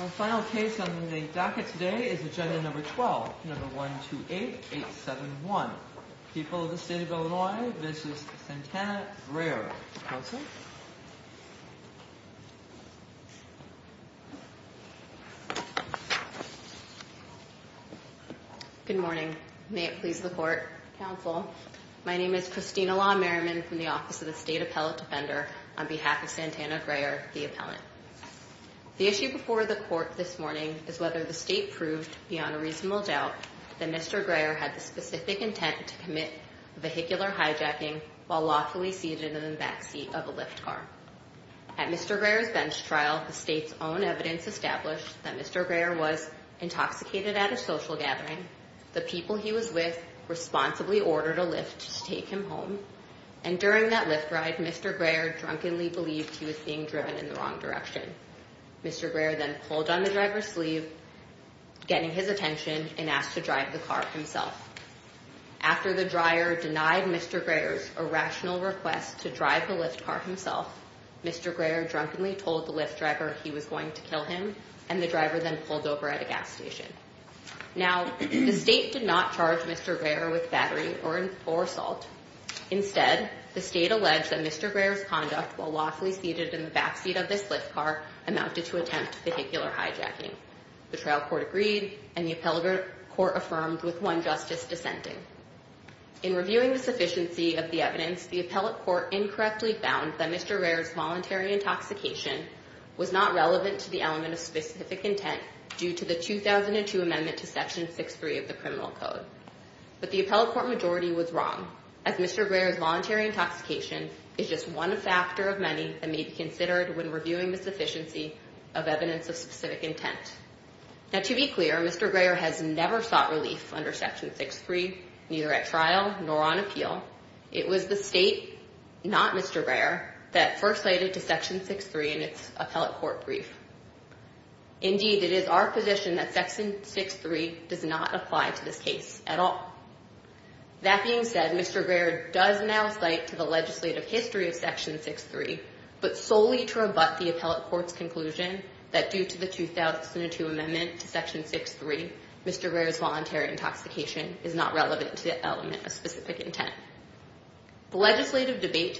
Our final case on the docket today is agenda number 12, number 128871. People of the State of Illinois v. Santana Grayer. Counsel? Good morning. May it please the Court, Counsel. My name is Christina Law Merriman from the Office of the State Appellate Defender on behalf of Santana Grayer, the appellant. The issue before the Court this morning is whether the State proved, beyond a reasonable doubt, that Mr. Grayer had the specific intent to commit vehicular hijacking while lawfully seated in the backseat of a Lyft car. At Mr. Grayer's bench trial, the State's own evidence established that Mr. Grayer was intoxicated at a social gathering, the people he was with responsibly ordered a Lyft to take him home, and during that Lyft ride, Mr. Grayer drunkenly believed he was being driven in the wrong direction. Mr. Grayer then pulled on the driver's sleeve, getting his attention, and asked to drive the car himself. After the driver denied Mr. Grayer's irrational request to drive the Lyft car himself, Mr. Grayer drunkenly told the Lyft driver he was going to kill him, and the driver then pulled over at a gas station. Now, the State did not charge Mr. Grayer with battery or assault. Instead, the State alleged that Mr. Grayer's conduct while lawfully seated in the backseat of this Lyft car amounted to attempt vehicular hijacking. The trial court agreed, and the appellate court affirmed with one justice dissenting. In reviewing the sufficiency of the evidence, the appellate court incorrectly found that Mr. Grayer's voluntary intoxication was not relevant to the element of specific intent due to the 2002 amendment to Section 6.3 of the Criminal Code. But the appellate court majority was wrong, as Mr. Grayer's voluntary intoxication is just one factor of many that may be considered when reviewing the sufficiency of evidence of specific intent. Now, to be clear, Mr. Grayer has never sought relief under Section 6.3, neither at trial nor on appeal. It was the State, not Mr. Grayer, that first cited Section 6.3 in its appellate court brief. Indeed, it is our position that Section 6.3 does not apply to this case at all. That being said, Mr. Grayer does now cite to the legislative history of Section 6.3, but solely to rebut the appellate court's conclusion that due to the 2002 amendment to Section 6.3, Mr. Grayer's voluntary intoxication is not relevant to the element of specific intent. The legislative debate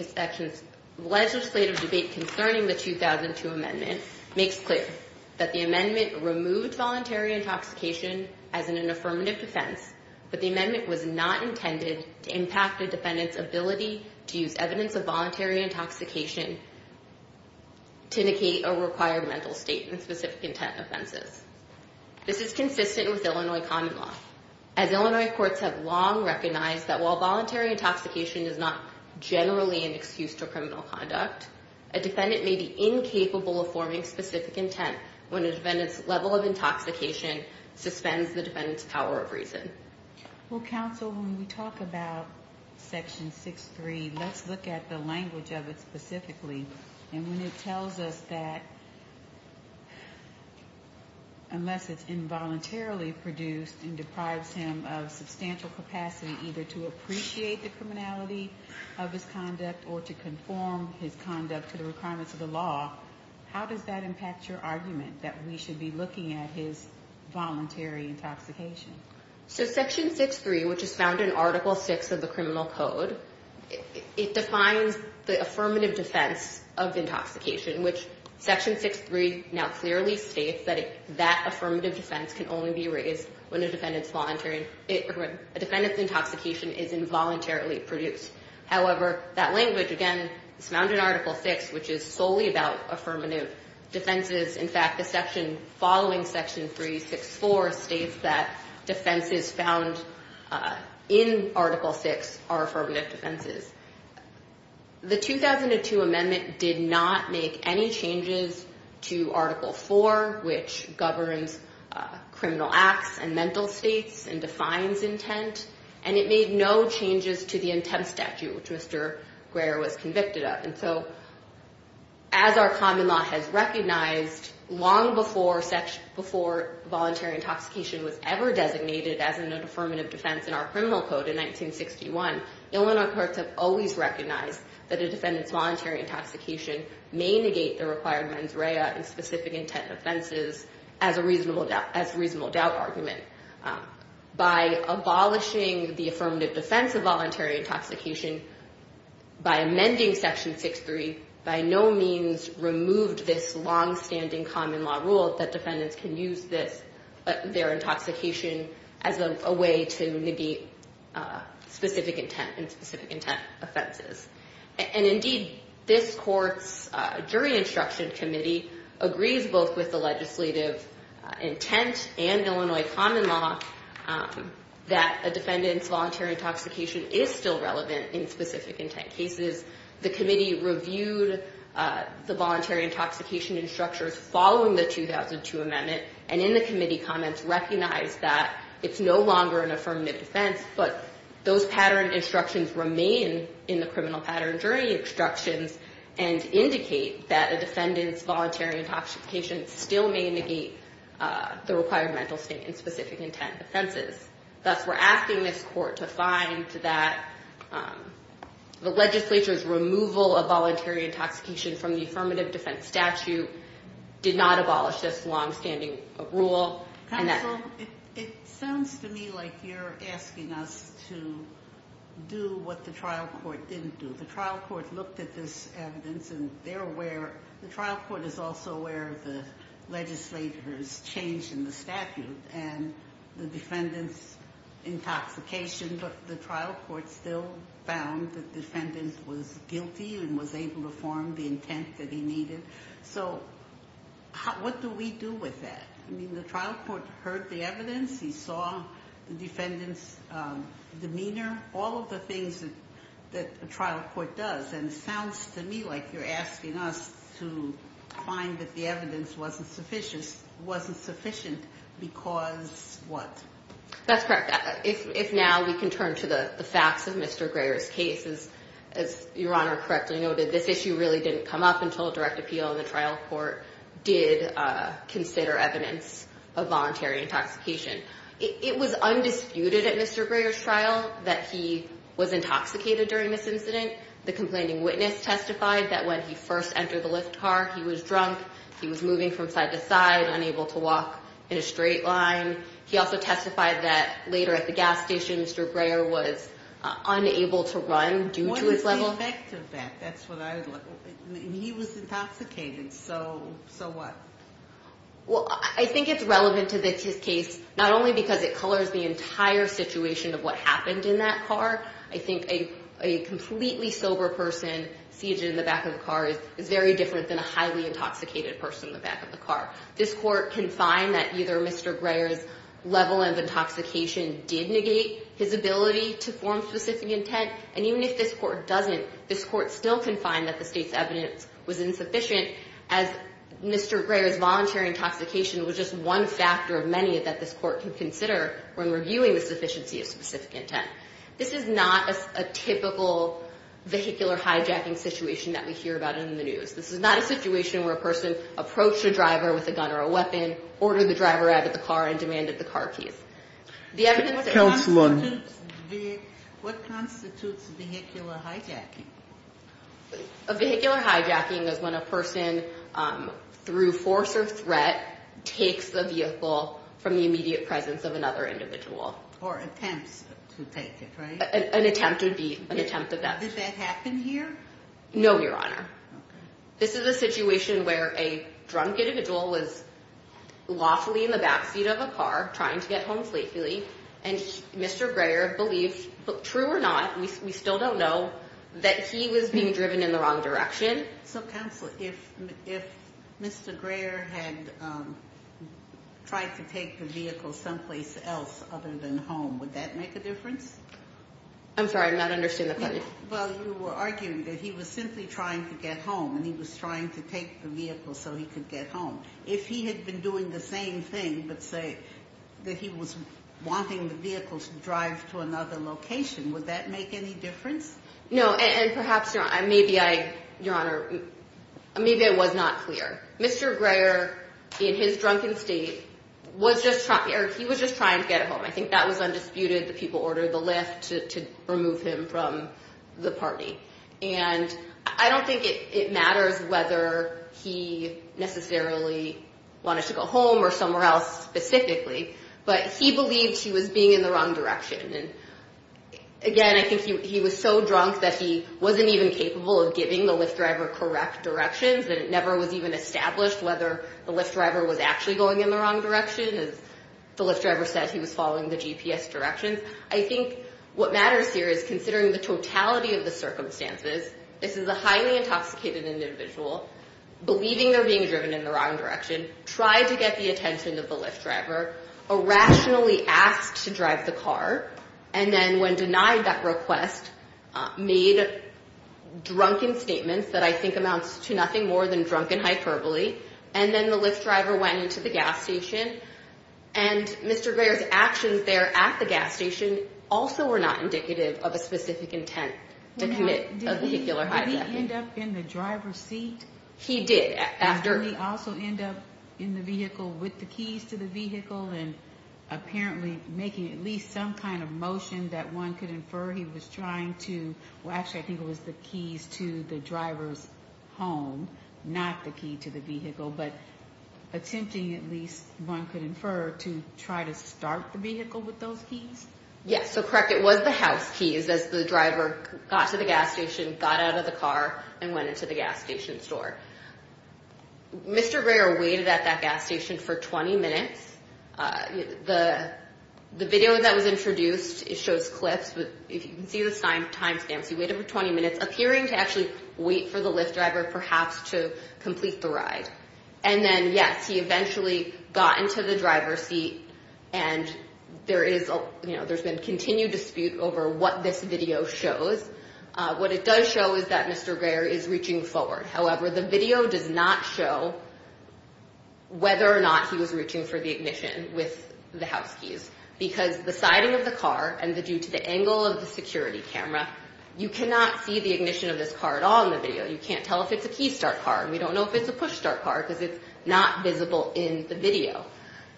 concerning the 2002 amendment makes clear that the amendment removed voluntary intoxication as an affirmative defense, but the amendment was not intended to impact a defendant's ability to use evidence of voluntary intoxication to indicate a required mental state in specific intent offenses. This is consistent with Illinois common law, as Illinois courts have long recognized that while voluntary intoxication is not generally an excuse to criminal conduct, a defendant may be incapable of forming specific intent when a defendant's level of intoxication suspends the defendant's power of reason. Well, counsel, when we talk about Section 6.3, let's look at the language of it specifically. And when it tells us that unless it's involuntarily produced and deprives him of substantial capacity either to appreciate the criminality of his conduct or to conform his conduct to the requirements of the law, how does that impact your argument that we should be looking at his voluntary intoxication? So Section 6.3, which is found in Article 6 of the Criminal Code, it defines the affirmative defense of intoxication, which Section 6.3 now clearly states that that affirmative defense can only be raised when a defendant's intoxication is involuntarily produced. However, that language, again, is found in Article 6, which is solely about affirmative defenses. In fact, the section following Section 3.6.4 states that defenses found in Article 6 are affirmative defenses. The 2002 amendment did not make any changes to Article 4, which governs criminal acts and mental states and defines intent, and it made no changes to the intent statute, which Mr. Greer was convicted of. And so as our common law has recognized long before voluntary intoxication was ever designated as an affirmative defense in our Criminal Code in 1961, Illinois courts have always recognized that a defendant's voluntary intoxication may negate the required mens rea and specific intent offenses as a reasonable doubt argument. By abolishing the affirmative defense of voluntary intoxication, by amending Section 6.3, by no means removed this longstanding common law rule that defendants can use their intoxication as a way to negate specific intent and specific intent offenses. And indeed, this court's jury instruction committee agrees both with the legislative intent and Illinois common law that a defendant's voluntary intoxication is still relevant in specific intent cases. The committee reviewed the voluntary intoxication instructions following the 2002 amendment and in the committee comments recognized that it's no longer an affirmative defense, but those pattern instructions remain in the criminal pattern jury instructions and indicate that a defendant's voluntary intoxication still may negate the required mental state and specific intent offenses. Thus, we're asking this court to find that the legislature's removal of voluntary intoxication from the affirmative defense statute did not abolish this longstanding rule. Counsel, it sounds to me like you're asking us to do what the trial court didn't do. The trial court looked at this evidence and they're aware, the trial court is also aware of the legislature's change in the statute and the defendant's intoxication, but the trial court still found the defendant was guilty and was able to form the intent that he needed. So, what do we do with that? I mean, the trial court heard the evidence. He saw the defendant's demeanor, all of the things that a trial court does, and it sounds to me like you're asking us to find that the evidence wasn't sufficient because what? That's correct. If now we can turn to the facts of Mr. Greer's case, as Your Honor correctly noted, this issue really didn't come up until direct appeal and the trial court did consider evidence of voluntary intoxication. It was undisputed at Mr. Greer's trial that he was intoxicated during this incident. The complaining witness testified that when he first entered the Lyft car, he was drunk. He was moving from side to side, unable to walk in a straight line. He also testified that later at the gas station, Mr. Greer was unable to run due to his level. Go back to that. That's what I was looking for. He was intoxicated, so what? Well, I think it's relevant to this case not only because it colors the entire situation of what happened in that car. I think a completely sober person seated in the back of the car is very different than a highly intoxicated person in the back of the car. This court can find that either Mr. Greer's level of intoxication did negate his ability to form specific intent, and even if this court doesn't, this court still can find that the state's evidence was insufficient as Mr. Greer's voluntary intoxication was just one factor of many that this court can consider when reviewing the sufficiency of specific intent. This is not a typical vehicular hijacking situation that we hear about in the news. This is not a situation where a person approached a driver with a gun or a weapon, ordered the driver out of the car, and demanded the car keys. What constitutes vehicular hijacking? A vehicular hijacking is when a person, through force or threat, takes the vehicle from the immediate presence of another individual. Or attempts to take it, right? An attempt would be an attempt at that. Did that happen here? No, Your Honor. Okay. This is a situation where a drunk individual was lawfully in the backseat of a car, trying to get home safely, and Mr. Greer believed, true or not, we still don't know, that he was being driven in the wrong direction. So, Counsel, if Mr. Greer had tried to take the vehicle someplace else other than home, would that make a difference? I'm sorry, I'm not understanding the question. Well, you were arguing that he was simply trying to get home, and he was trying to take the vehicle so he could get home. If he had been doing the same thing, but, say, that he was wanting the vehicle to drive to another location, would that make any difference? No, and perhaps, Your Honor, maybe I was not clear. Mr. Greer, in his drunken state, was just trying to get home. I think that was undisputed. The people ordered the Lyft to remove him from the party. And I don't think it matters whether he necessarily wanted to go home or somewhere else specifically, but he believed he was being in the wrong direction. And, again, I think he was so drunk that he wasn't even capable of giving the Lyft driver correct directions, and it never was even established whether the Lyft driver was actually going in the wrong direction. As the Lyft driver said, he was following the GPS directions. I think what matters here is, considering the totality of the circumstances, this is a highly intoxicated individual, believing they're being driven in the wrong direction, tried to get the attention of the Lyft driver, irrationally asked to drive the car, and then, when denied that request, made drunken statements that I think amounts to nothing more than drunken hyperbole, and then the Lyft driver went into the gas station. And Mr. Greer's actions there at the gas station also were not indicative of a specific intent to commit a vehicular hijack. Did he end up in the driver's seat? He did. Did he also end up in the vehicle with the keys to the vehicle and apparently making at least some kind of motion that one could infer he was trying to Well, actually, I think it was the keys to the driver's home, not the key to the vehicle, but attempting, at least one could infer, to try to start the vehicle with those keys? Yes, so correct. It was the house keys as the driver got to the gas station, got out of the car, and went into the gas station store. Mr. Greer waited at that gas station for 20 minutes. The video that was introduced, it shows clips. If you can see the time stamps, he waited for 20 minutes, appearing to actually wait for the Lyft driver perhaps to complete the ride. And then, yes, he eventually got into the driver's seat, and there's been continued dispute over what this video shows. What it does show is that Mr. Greer is reaching forward. However, the video does not show whether or not he was reaching for the ignition with the house keys because the siding of the car and due to the angle of the security camera, you cannot see the ignition of this car at all in the video. You can't tell if it's a key start car, and we don't know if it's a push start car because it's not visible in the video.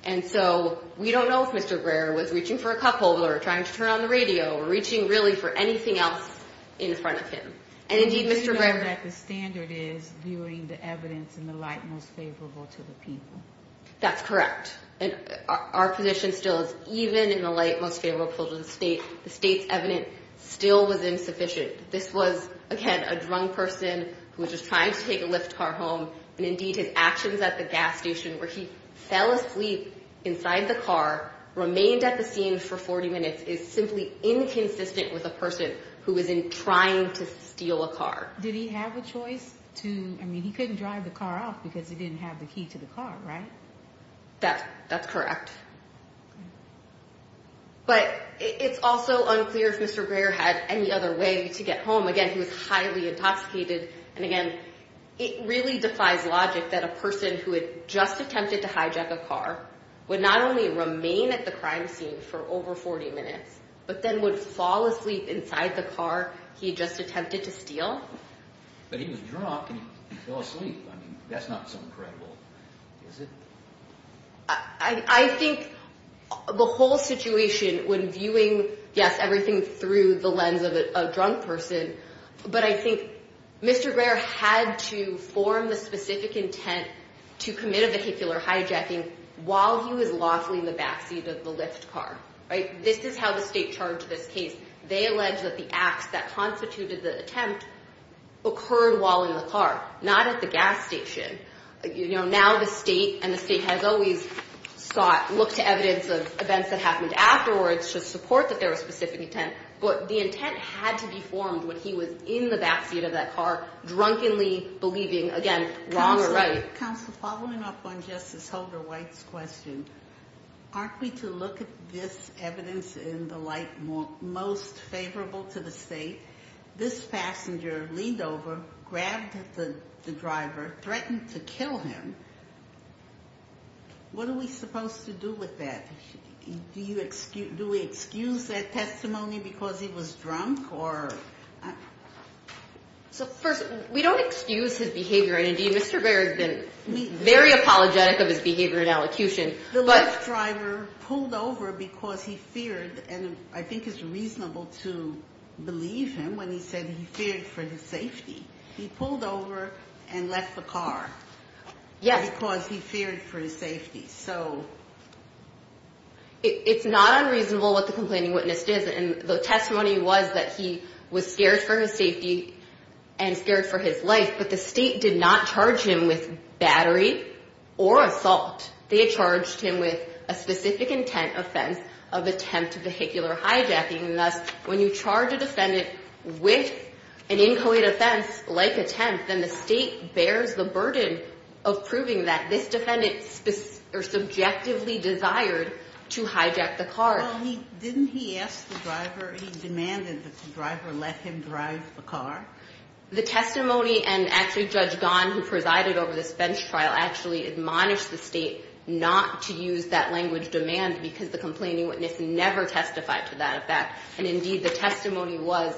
And so we don't know if Mr. Greer was reaching for a cupholder or trying to turn on the radio or reaching really for anything else in front of him. And indeed, Mr. Greer We do know that the standard is viewing the evidence in the light most favorable to the people. That's correct. And our position still is even in the light most favorable to the state. The state's evidence still was insufficient. This was, again, a drunk person who was just trying to take a Lyft car home, and indeed his actions at the gas station where he fell asleep inside the car, remained at the scene for 40 minutes, is simply inconsistent with a person who was trying to steal a car. Did he have a choice to, I mean, he couldn't drive the car off because he didn't have the key to the car, right? That's correct. But it's also unclear if Mr. Greer had any other way to get home. Again, he was highly intoxicated. And again, it really defies logic that a person who had just attempted to hijack a car would not only remain at the crime scene for over 40 minutes, but then would fall asleep inside the car he had just attempted to steal. But he was drunk and he fell asleep. I mean, that's not so incredible, is it? I think the whole situation when viewing, yes, everything through the lens of a drunk person, but I think Mr. Greer had to form the specific intent to commit a vehicular hijacking while he was lawfully in the backseat of the Lyft car, right? This is how the state charged this case. They allege that the acts that constituted the attempt occurred while in the car, not at the gas station. Now the state, and the state has always looked to evidence of events that happened afterwards to support that there was specific intent, but the intent had to be formed when he was in the backseat of that car, drunkenly believing, again, wrong or right. Counsel, following up on Justice Holder White's question, aren't we to look at this evidence in the light most favorable to the state? This passenger leaned over, grabbed the driver, threatened to kill him. What are we supposed to do with that? Do we excuse that testimony because he was drunk? So first, we don't excuse his behavior, and indeed Mr. Greer has been very apologetic of his behavior and elocution. The Lyft driver pulled over because he feared, and I think it's reasonable to believe him when he said he feared for his safety. He pulled over and left the car because he feared for his safety. It's not unreasonable what the complaining witness did, and the testimony was that he was scared for his safety and scared for his life, but the state did not charge him with battery or assault. They charged him with a specific intent offense of attempt vehicular hijacking, and thus when you charge a defendant with an inchoate offense like attempt, then the state bears the burden of proving that this defendant subjectively desired to hijack the car. Well, didn't he ask the driver, he demanded that the driver let him drive the car? The testimony and actually Judge Gahn who presided over this bench trial actually admonished the state not to use that language demand because the complaining witness never testified to that fact, and indeed the testimony was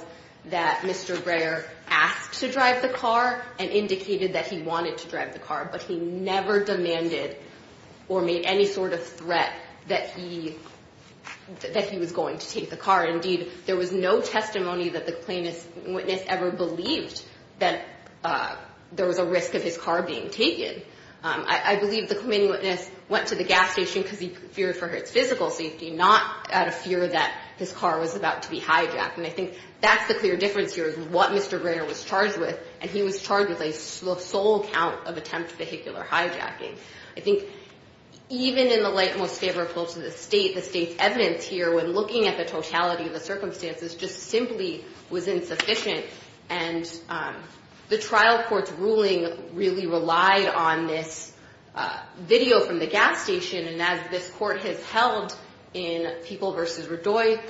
that Mr. Greer asked to drive the car and indicated that he wanted to drive the car, but he never demanded or made any sort of threat that he was going to take the car. Indeed, there was no testimony that the complaining witness ever believed that there was a risk of his car being taken. I believe the complaining witness went to the gas station because he feared for his physical safety, not out of fear that his car was about to be hijacked, and I think that's the clear difference here is what Mr. Greer was charged with, and he was charged with a sole count of attempt vehicular hijacking. I think even in the light most favorable to the state, the state's evidence here when looking at the totality of the circumstances just simply was insufficient, and the trial court's ruling really relied on this video from the gas station, and as this court has held in People v. Radojic,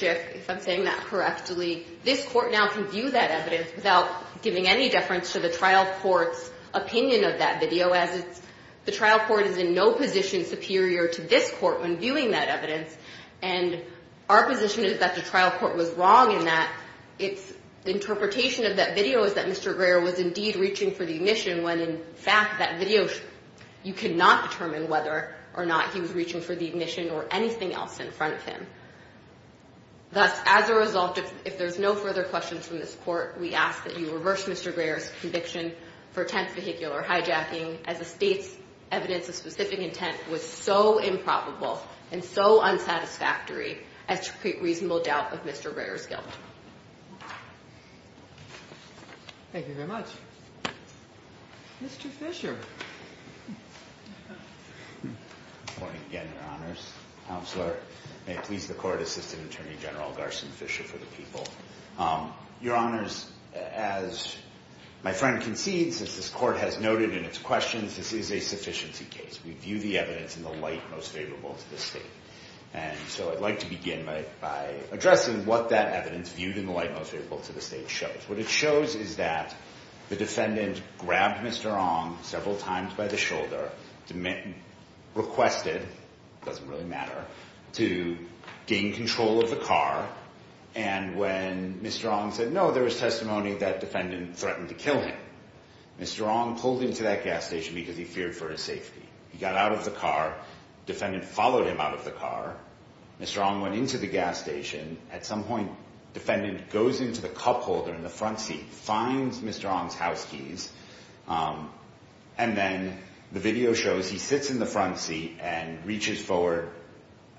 if I'm saying that correctly, this court now can view that evidence without giving any deference to the trial court's opinion of that video as the trial court is in no position superior to this court when viewing that evidence, and our position is that the trial court was wrong in that its interpretation of that video is that Mr. Greer was indeed reaching for the ignition, when in fact that video, you cannot determine whether or not he was reaching for the ignition or anything else in front of him. Thus, as a result, if there's no further questions from this court, we ask that you reverse Mr. Greer's conviction for attempt vehicular hijacking as the state's evidence of specific intent was so improbable and so unsatisfactory as to create reasonable doubt of Mr. Greer's guilt. Thank you very much. Mr. Fisher. Good morning again, Your Honors. Counselor, may it please the Court, Assistant Attorney General Garson Fisher for the People. Your Honors, as my friend concedes, as this court has noted in its questions, this is a sufficiency case. We view the evidence in the light most favorable to the state, and so I'd like to begin by addressing what that evidence, viewed in the light most favorable to the state, shows. What it shows is that the defendant grabbed Mr. Ong several times by the shoulder, requested, doesn't really matter, to gain control of the car, and when Mr. Ong said, no, there was testimony that defendant threatened to kill him, Mr. Ong pulled into that gas station because he feared for his safety. He got out of the car. Defendant followed him out of the car. Mr. Ong went into the gas station. At some point, defendant goes into the cup holder in the front seat, finds Mr. Ong's house keys, and then the video shows he sits in the front seat and reaches forward,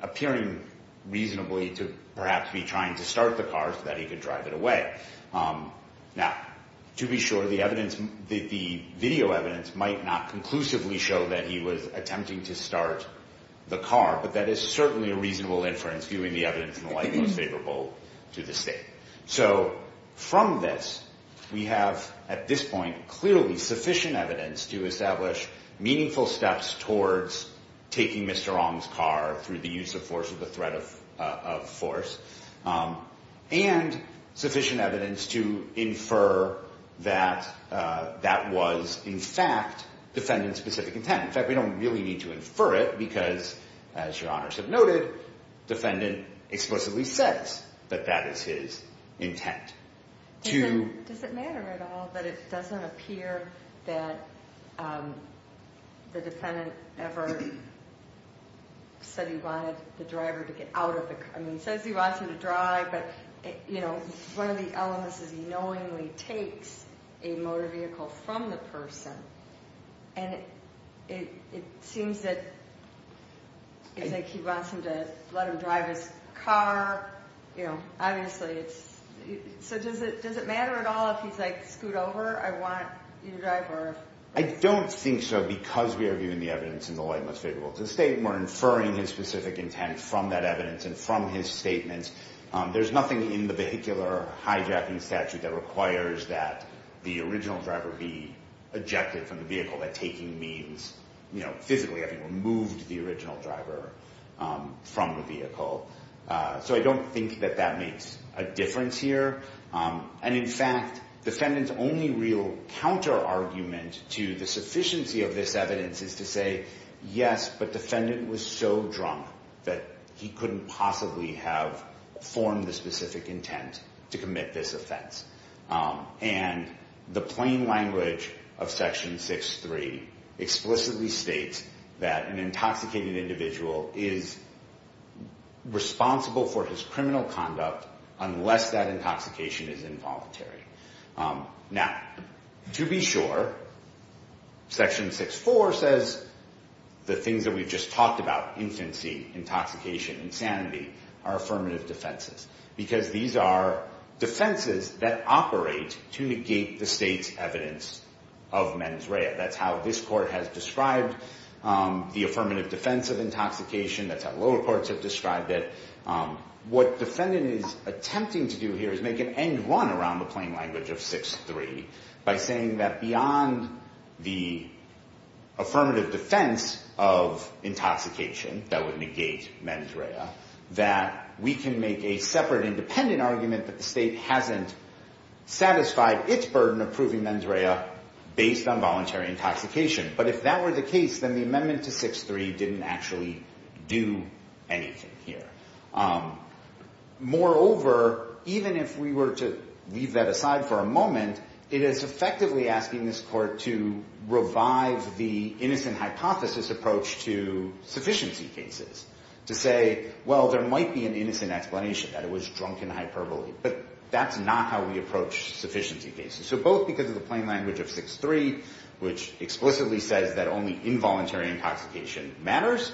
appearing reasonably to perhaps be trying to start the car so that he could drive it away. Now, to be sure, the video evidence might not conclusively show that he was attempting to start the car, but that is certainly a reasonable inference, viewing the evidence in the light most favorable to the state. So from this, we have at this point clearly sufficient evidence to establish meaningful steps towards taking Mr. Ong's car through the use of force or the threat of force, and sufficient evidence to infer that that was, in fact, defendant's specific intent. In fact, we don't really need to infer it because, as Your Honors have noted, defendant explicitly says that that is his intent. Does it matter at all that it doesn't appear that the defendant ever said he wanted the driver to get out of the car? I mean, he says he wants him to drive, but one of the elements is he knowingly takes a motor vehicle from the person, and it seems that it's like he wants him to let him drive his car. You know, obviously it's – so does it matter at all if he's, like, scoot over? I want you to drive or if – I don't think so because we are viewing the evidence in the light most favorable to the state. We're inferring his specific intent from that evidence and from his statements. There's nothing in the vehicular hijacking statute that requires that the original driver be ejected from the vehicle, that taking means, you know, physically having removed the original driver from the vehicle. So I don't think that that makes a difference here. And, in fact, defendant's only real counterargument to the sufficiency of this evidence is to say, yes, but defendant was so drunk that he couldn't possibly have formed the specific intent to commit this offense. And the plain language of Section 6.3 explicitly states that an intoxicated individual is responsible for his criminal conduct unless that intoxication is involuntary. Now, to be sure, Section 6.4 says the things that we've just talked about, infancy, intoxication, insanity, are affirmative defenses because these are defenses that operate to negate the state's evidence of mens rea. That's how this court has described the affirmative defense of intoxication. That's how lower courts have described it. What defendant is attempting to do here is make an end run around the plain language of 6.3 by saying that beyond the affirmative defense of intoxication that would negate mens rea, that we can make a separate independent argument that the state hasn't satisfied its burden of proving mens rea based on voluntary intoxication. But if that were the case, then the amendment to 6.3 didn't actually do anything here. Moreover, even if we were to leave that aside for a moment, it is effectively asking this court to revive the innocent hypothesis approach to sufficiency cases, to say, well, there might be an innocent explanation that it was drunken hyperbole, but that's not how we approach sufficiency cases. So both because of the plain language of 6.3, which explicitly says that only involuntary intoxication matters,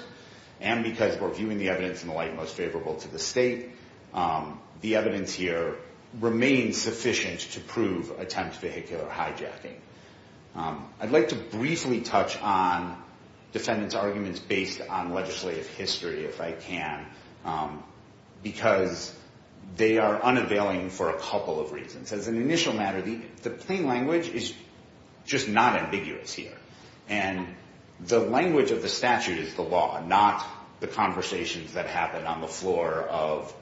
and because we're viewing the evidence in the light most favorable to the state, the evidence here remains sufficient to prove attempt vehicular hijacking. I'd like to briefly touch on defendants' arguments based on legislative history, if I can, because they are unavailing for a couple of reasons. As an initial matter, the plain language is just not ambiguous here. And the language of the statute is the law, not the conversations that happen on the floor of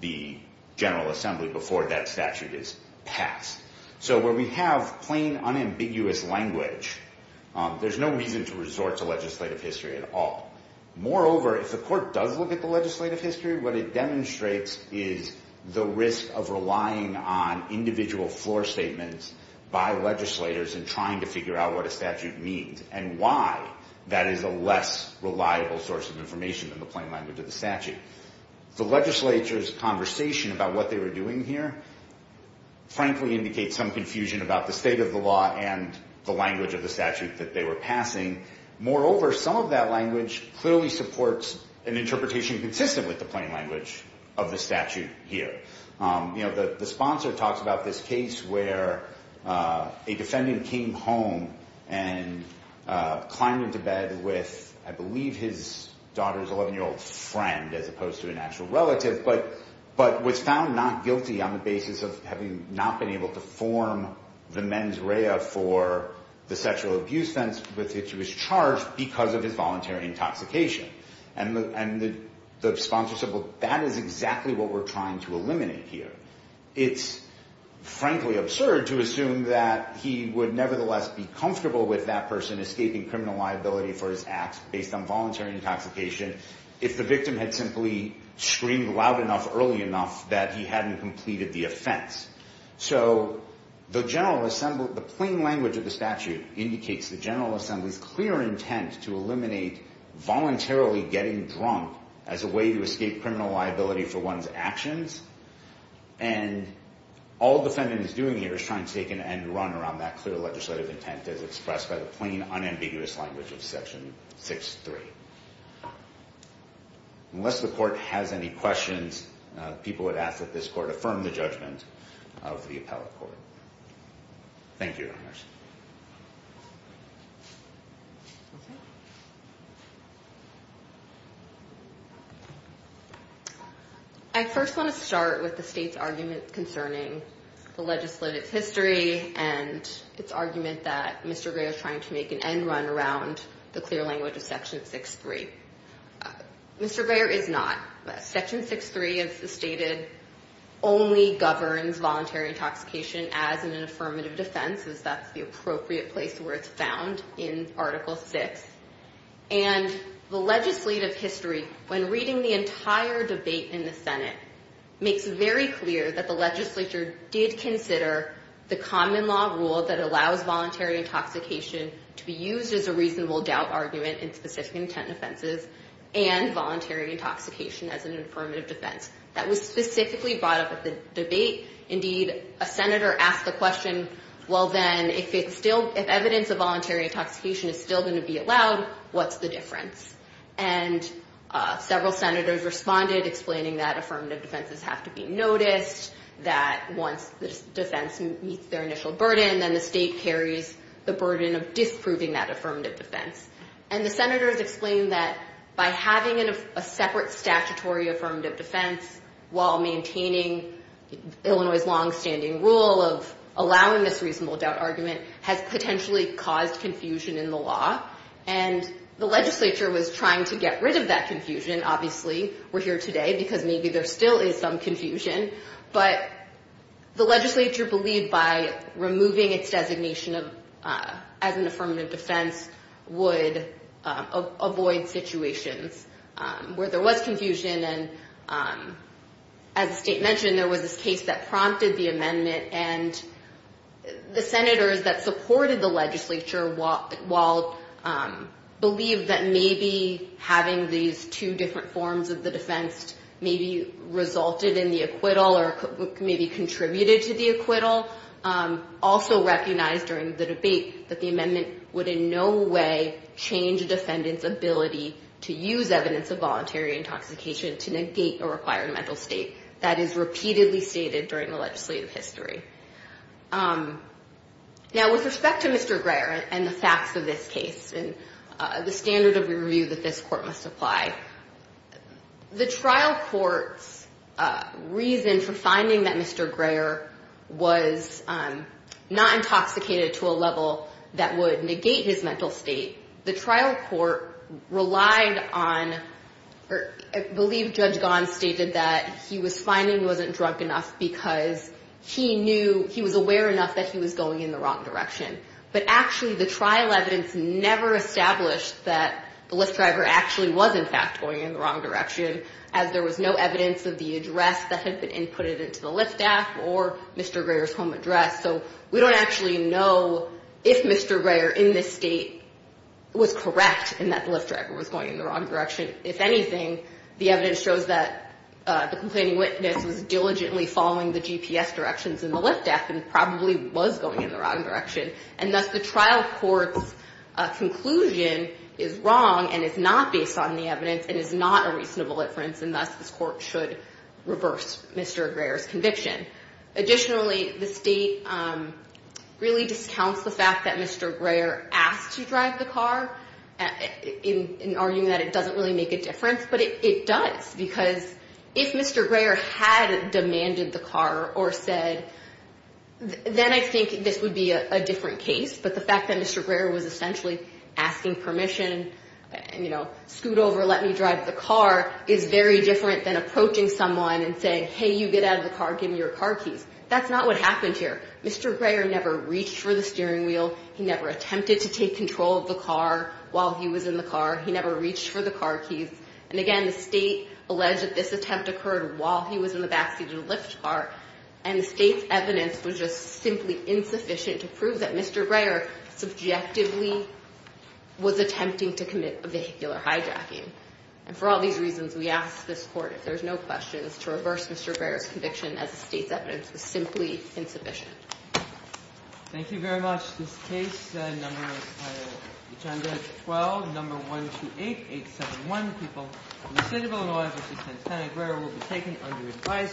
the General Assembly before that statute is passed. So where we have plain, unambiguous language, there's no reason to resort to legislative history at all. Moreover, if the court does look at the legislative history, what it demonstrates is the risk of relying on individual floor statements by legislators in trying to figure out what a statute means and why that is a less reliable source of information than the plain language of the statute. The legislature's conversation about what they were doing here, frankly, indicates some confusion about the state of the law and the language of the statute that they were passing. Moreover, some of that language clearly supports an interpretation consistent with the plain language of the statute here. The sponsor talks about this case where a defendant came home and climbed into bed with, I believe, his daughter's 11-year-old friend as opposed to an actual relative, but was found not guilty on the basis of having not been able to form the mens rea for the sexual abuse offense with which he was charged because of his voluntary intoxication. And the sponsor said, well, that is exactly what we're trying to eliminate here. It's frankly absurd to assume that he would nevertheless be comfortable with that person escaping criminal liability for his acts based on voluntary intoxication if the victim had simply screamed loud enough early enough that he hadn't completed the offense. So the plain language of the statute indicates the General Assembly's clear intent to eliminate voluntarily getting drunk as a way to escape criminal liability for one's actions. And all the defendant is doing here is trying to take an end run around that clear legislative intent as expressed by the plain, unambiguous language of Section 6.3. Unless the court has any questions, people would ask that this court affirm the judgment of the appellate court. Thank you, Your Honor. I first want to start with the state's argument concerning the legislative history and its argument that Mr. Greer is trying to make an end run around the clear language of Section 6.3. Mr. Greer is not. Section 6.3, as stated, only governs voluntary intoxication as an affirmative defense, as that's the appropriate place where it's found in Article 6. And the legislative history, when reading the entire debate in the Senate, makes it very clear that the legislature did consider the common law rule that allows voluntary intoxication to be used as a reasonable doubt argument in specific intent offenses and voluntary intoxication as an affirmative defense. That was specifically brought up at the debate. Indeed, a senator asked the question, well, then, if evidence of voluntary intoxication is still going to be allowed, what's the difference? And several senators responded, explaining that affirmative defenses have to be noticed, that once the defense meets their initial burden, then the state carries the burden of disproving that affirmative defense. And the senators explained that by having a separate statutory affirmative defense while maintaining Illinois' longstanding rule of allowing this reasonable doubt argument has potentially caused confusion in the law. And the legislature was trying to get rid of that confusion, obviously. We're here today because maybe there still is some confusion. But the legislature believed by removing its designation as an affirmative defense would avoid situations where there was confusion. And as the state mentioned, there was this case that prompted the amendment. And the senators that supported the legislature, while believed that maybe having these two different forms of the defense maybe resulted in the acquittal or maybe contributed to the acquittal, also recognized during the debate that the amendment would in no way change a defendant's ability to use evidence of voluntary intoxication to negate a required mental state. That is repeatedly stated during the legislative history. Now, with respect to Mr. Greer and the facts of this case and the standard of review that this court must apply, the trial court's reason for finding that Mr. Greer was not intoxicated to a level that would negate his mental state, the trial court relied on, or I believe Judge Gons stated that he was finding he wasn't drunk enough because he knew, he was aware enough that he was going in the wrong direction. But actually, the trial evidence never established that the Lyft driver actually was, in fact, going in the wrong direction as there was no evidence of the address that had been inputted into the Lyft app or Mr. Greer's home address. So we don't actually know if Mr. Greer in this state was correct in that the Lyft driver was going in the wrong direction. If anything, the evidence shows that the complaining witness was diligently following the GPS directions in the Lyft app and probably was going in the wrong direction. And thus the trial court's conclusion is wrong and is not based on the evidence and is not a reasonable inference, and thus this court should reverse Mr. Greer's conviction. Additionally, the state really discounts the fact that Mr. Greer asked to drive the car in arguing that it doesn't really make a difference, but it does. Because if Mr. Greer had demanded the car or said, then I think this would be a different case, but the fact that Mr. Greer was essentially asking permission, you know, scoot over, let me drive the car, is very different than approaching someone and saying, hey, you get out of the car, give me your car keys. That's not what happened here. Mr. Greer never reached for the steering wheel. He never attempted to take control of the car while he was in the car. He never reached for the car keys. And again, the state alleged that this attempt occurred while he was in the backseat of the Lyft car, and the state's evidence was just simply insufficient to prove that Mr. Greer subjectively was attempting to commit vehicular hijacking. And for all these reasons, we ask this Court, if there's no questions, to reverse Mr. Greer's conviction as the state's evidence was simply insufficient. Thank you very much. This case, number, agenda 12, number 128871, People in the State of Illinois v. Santana Greer, will be taken under advisory.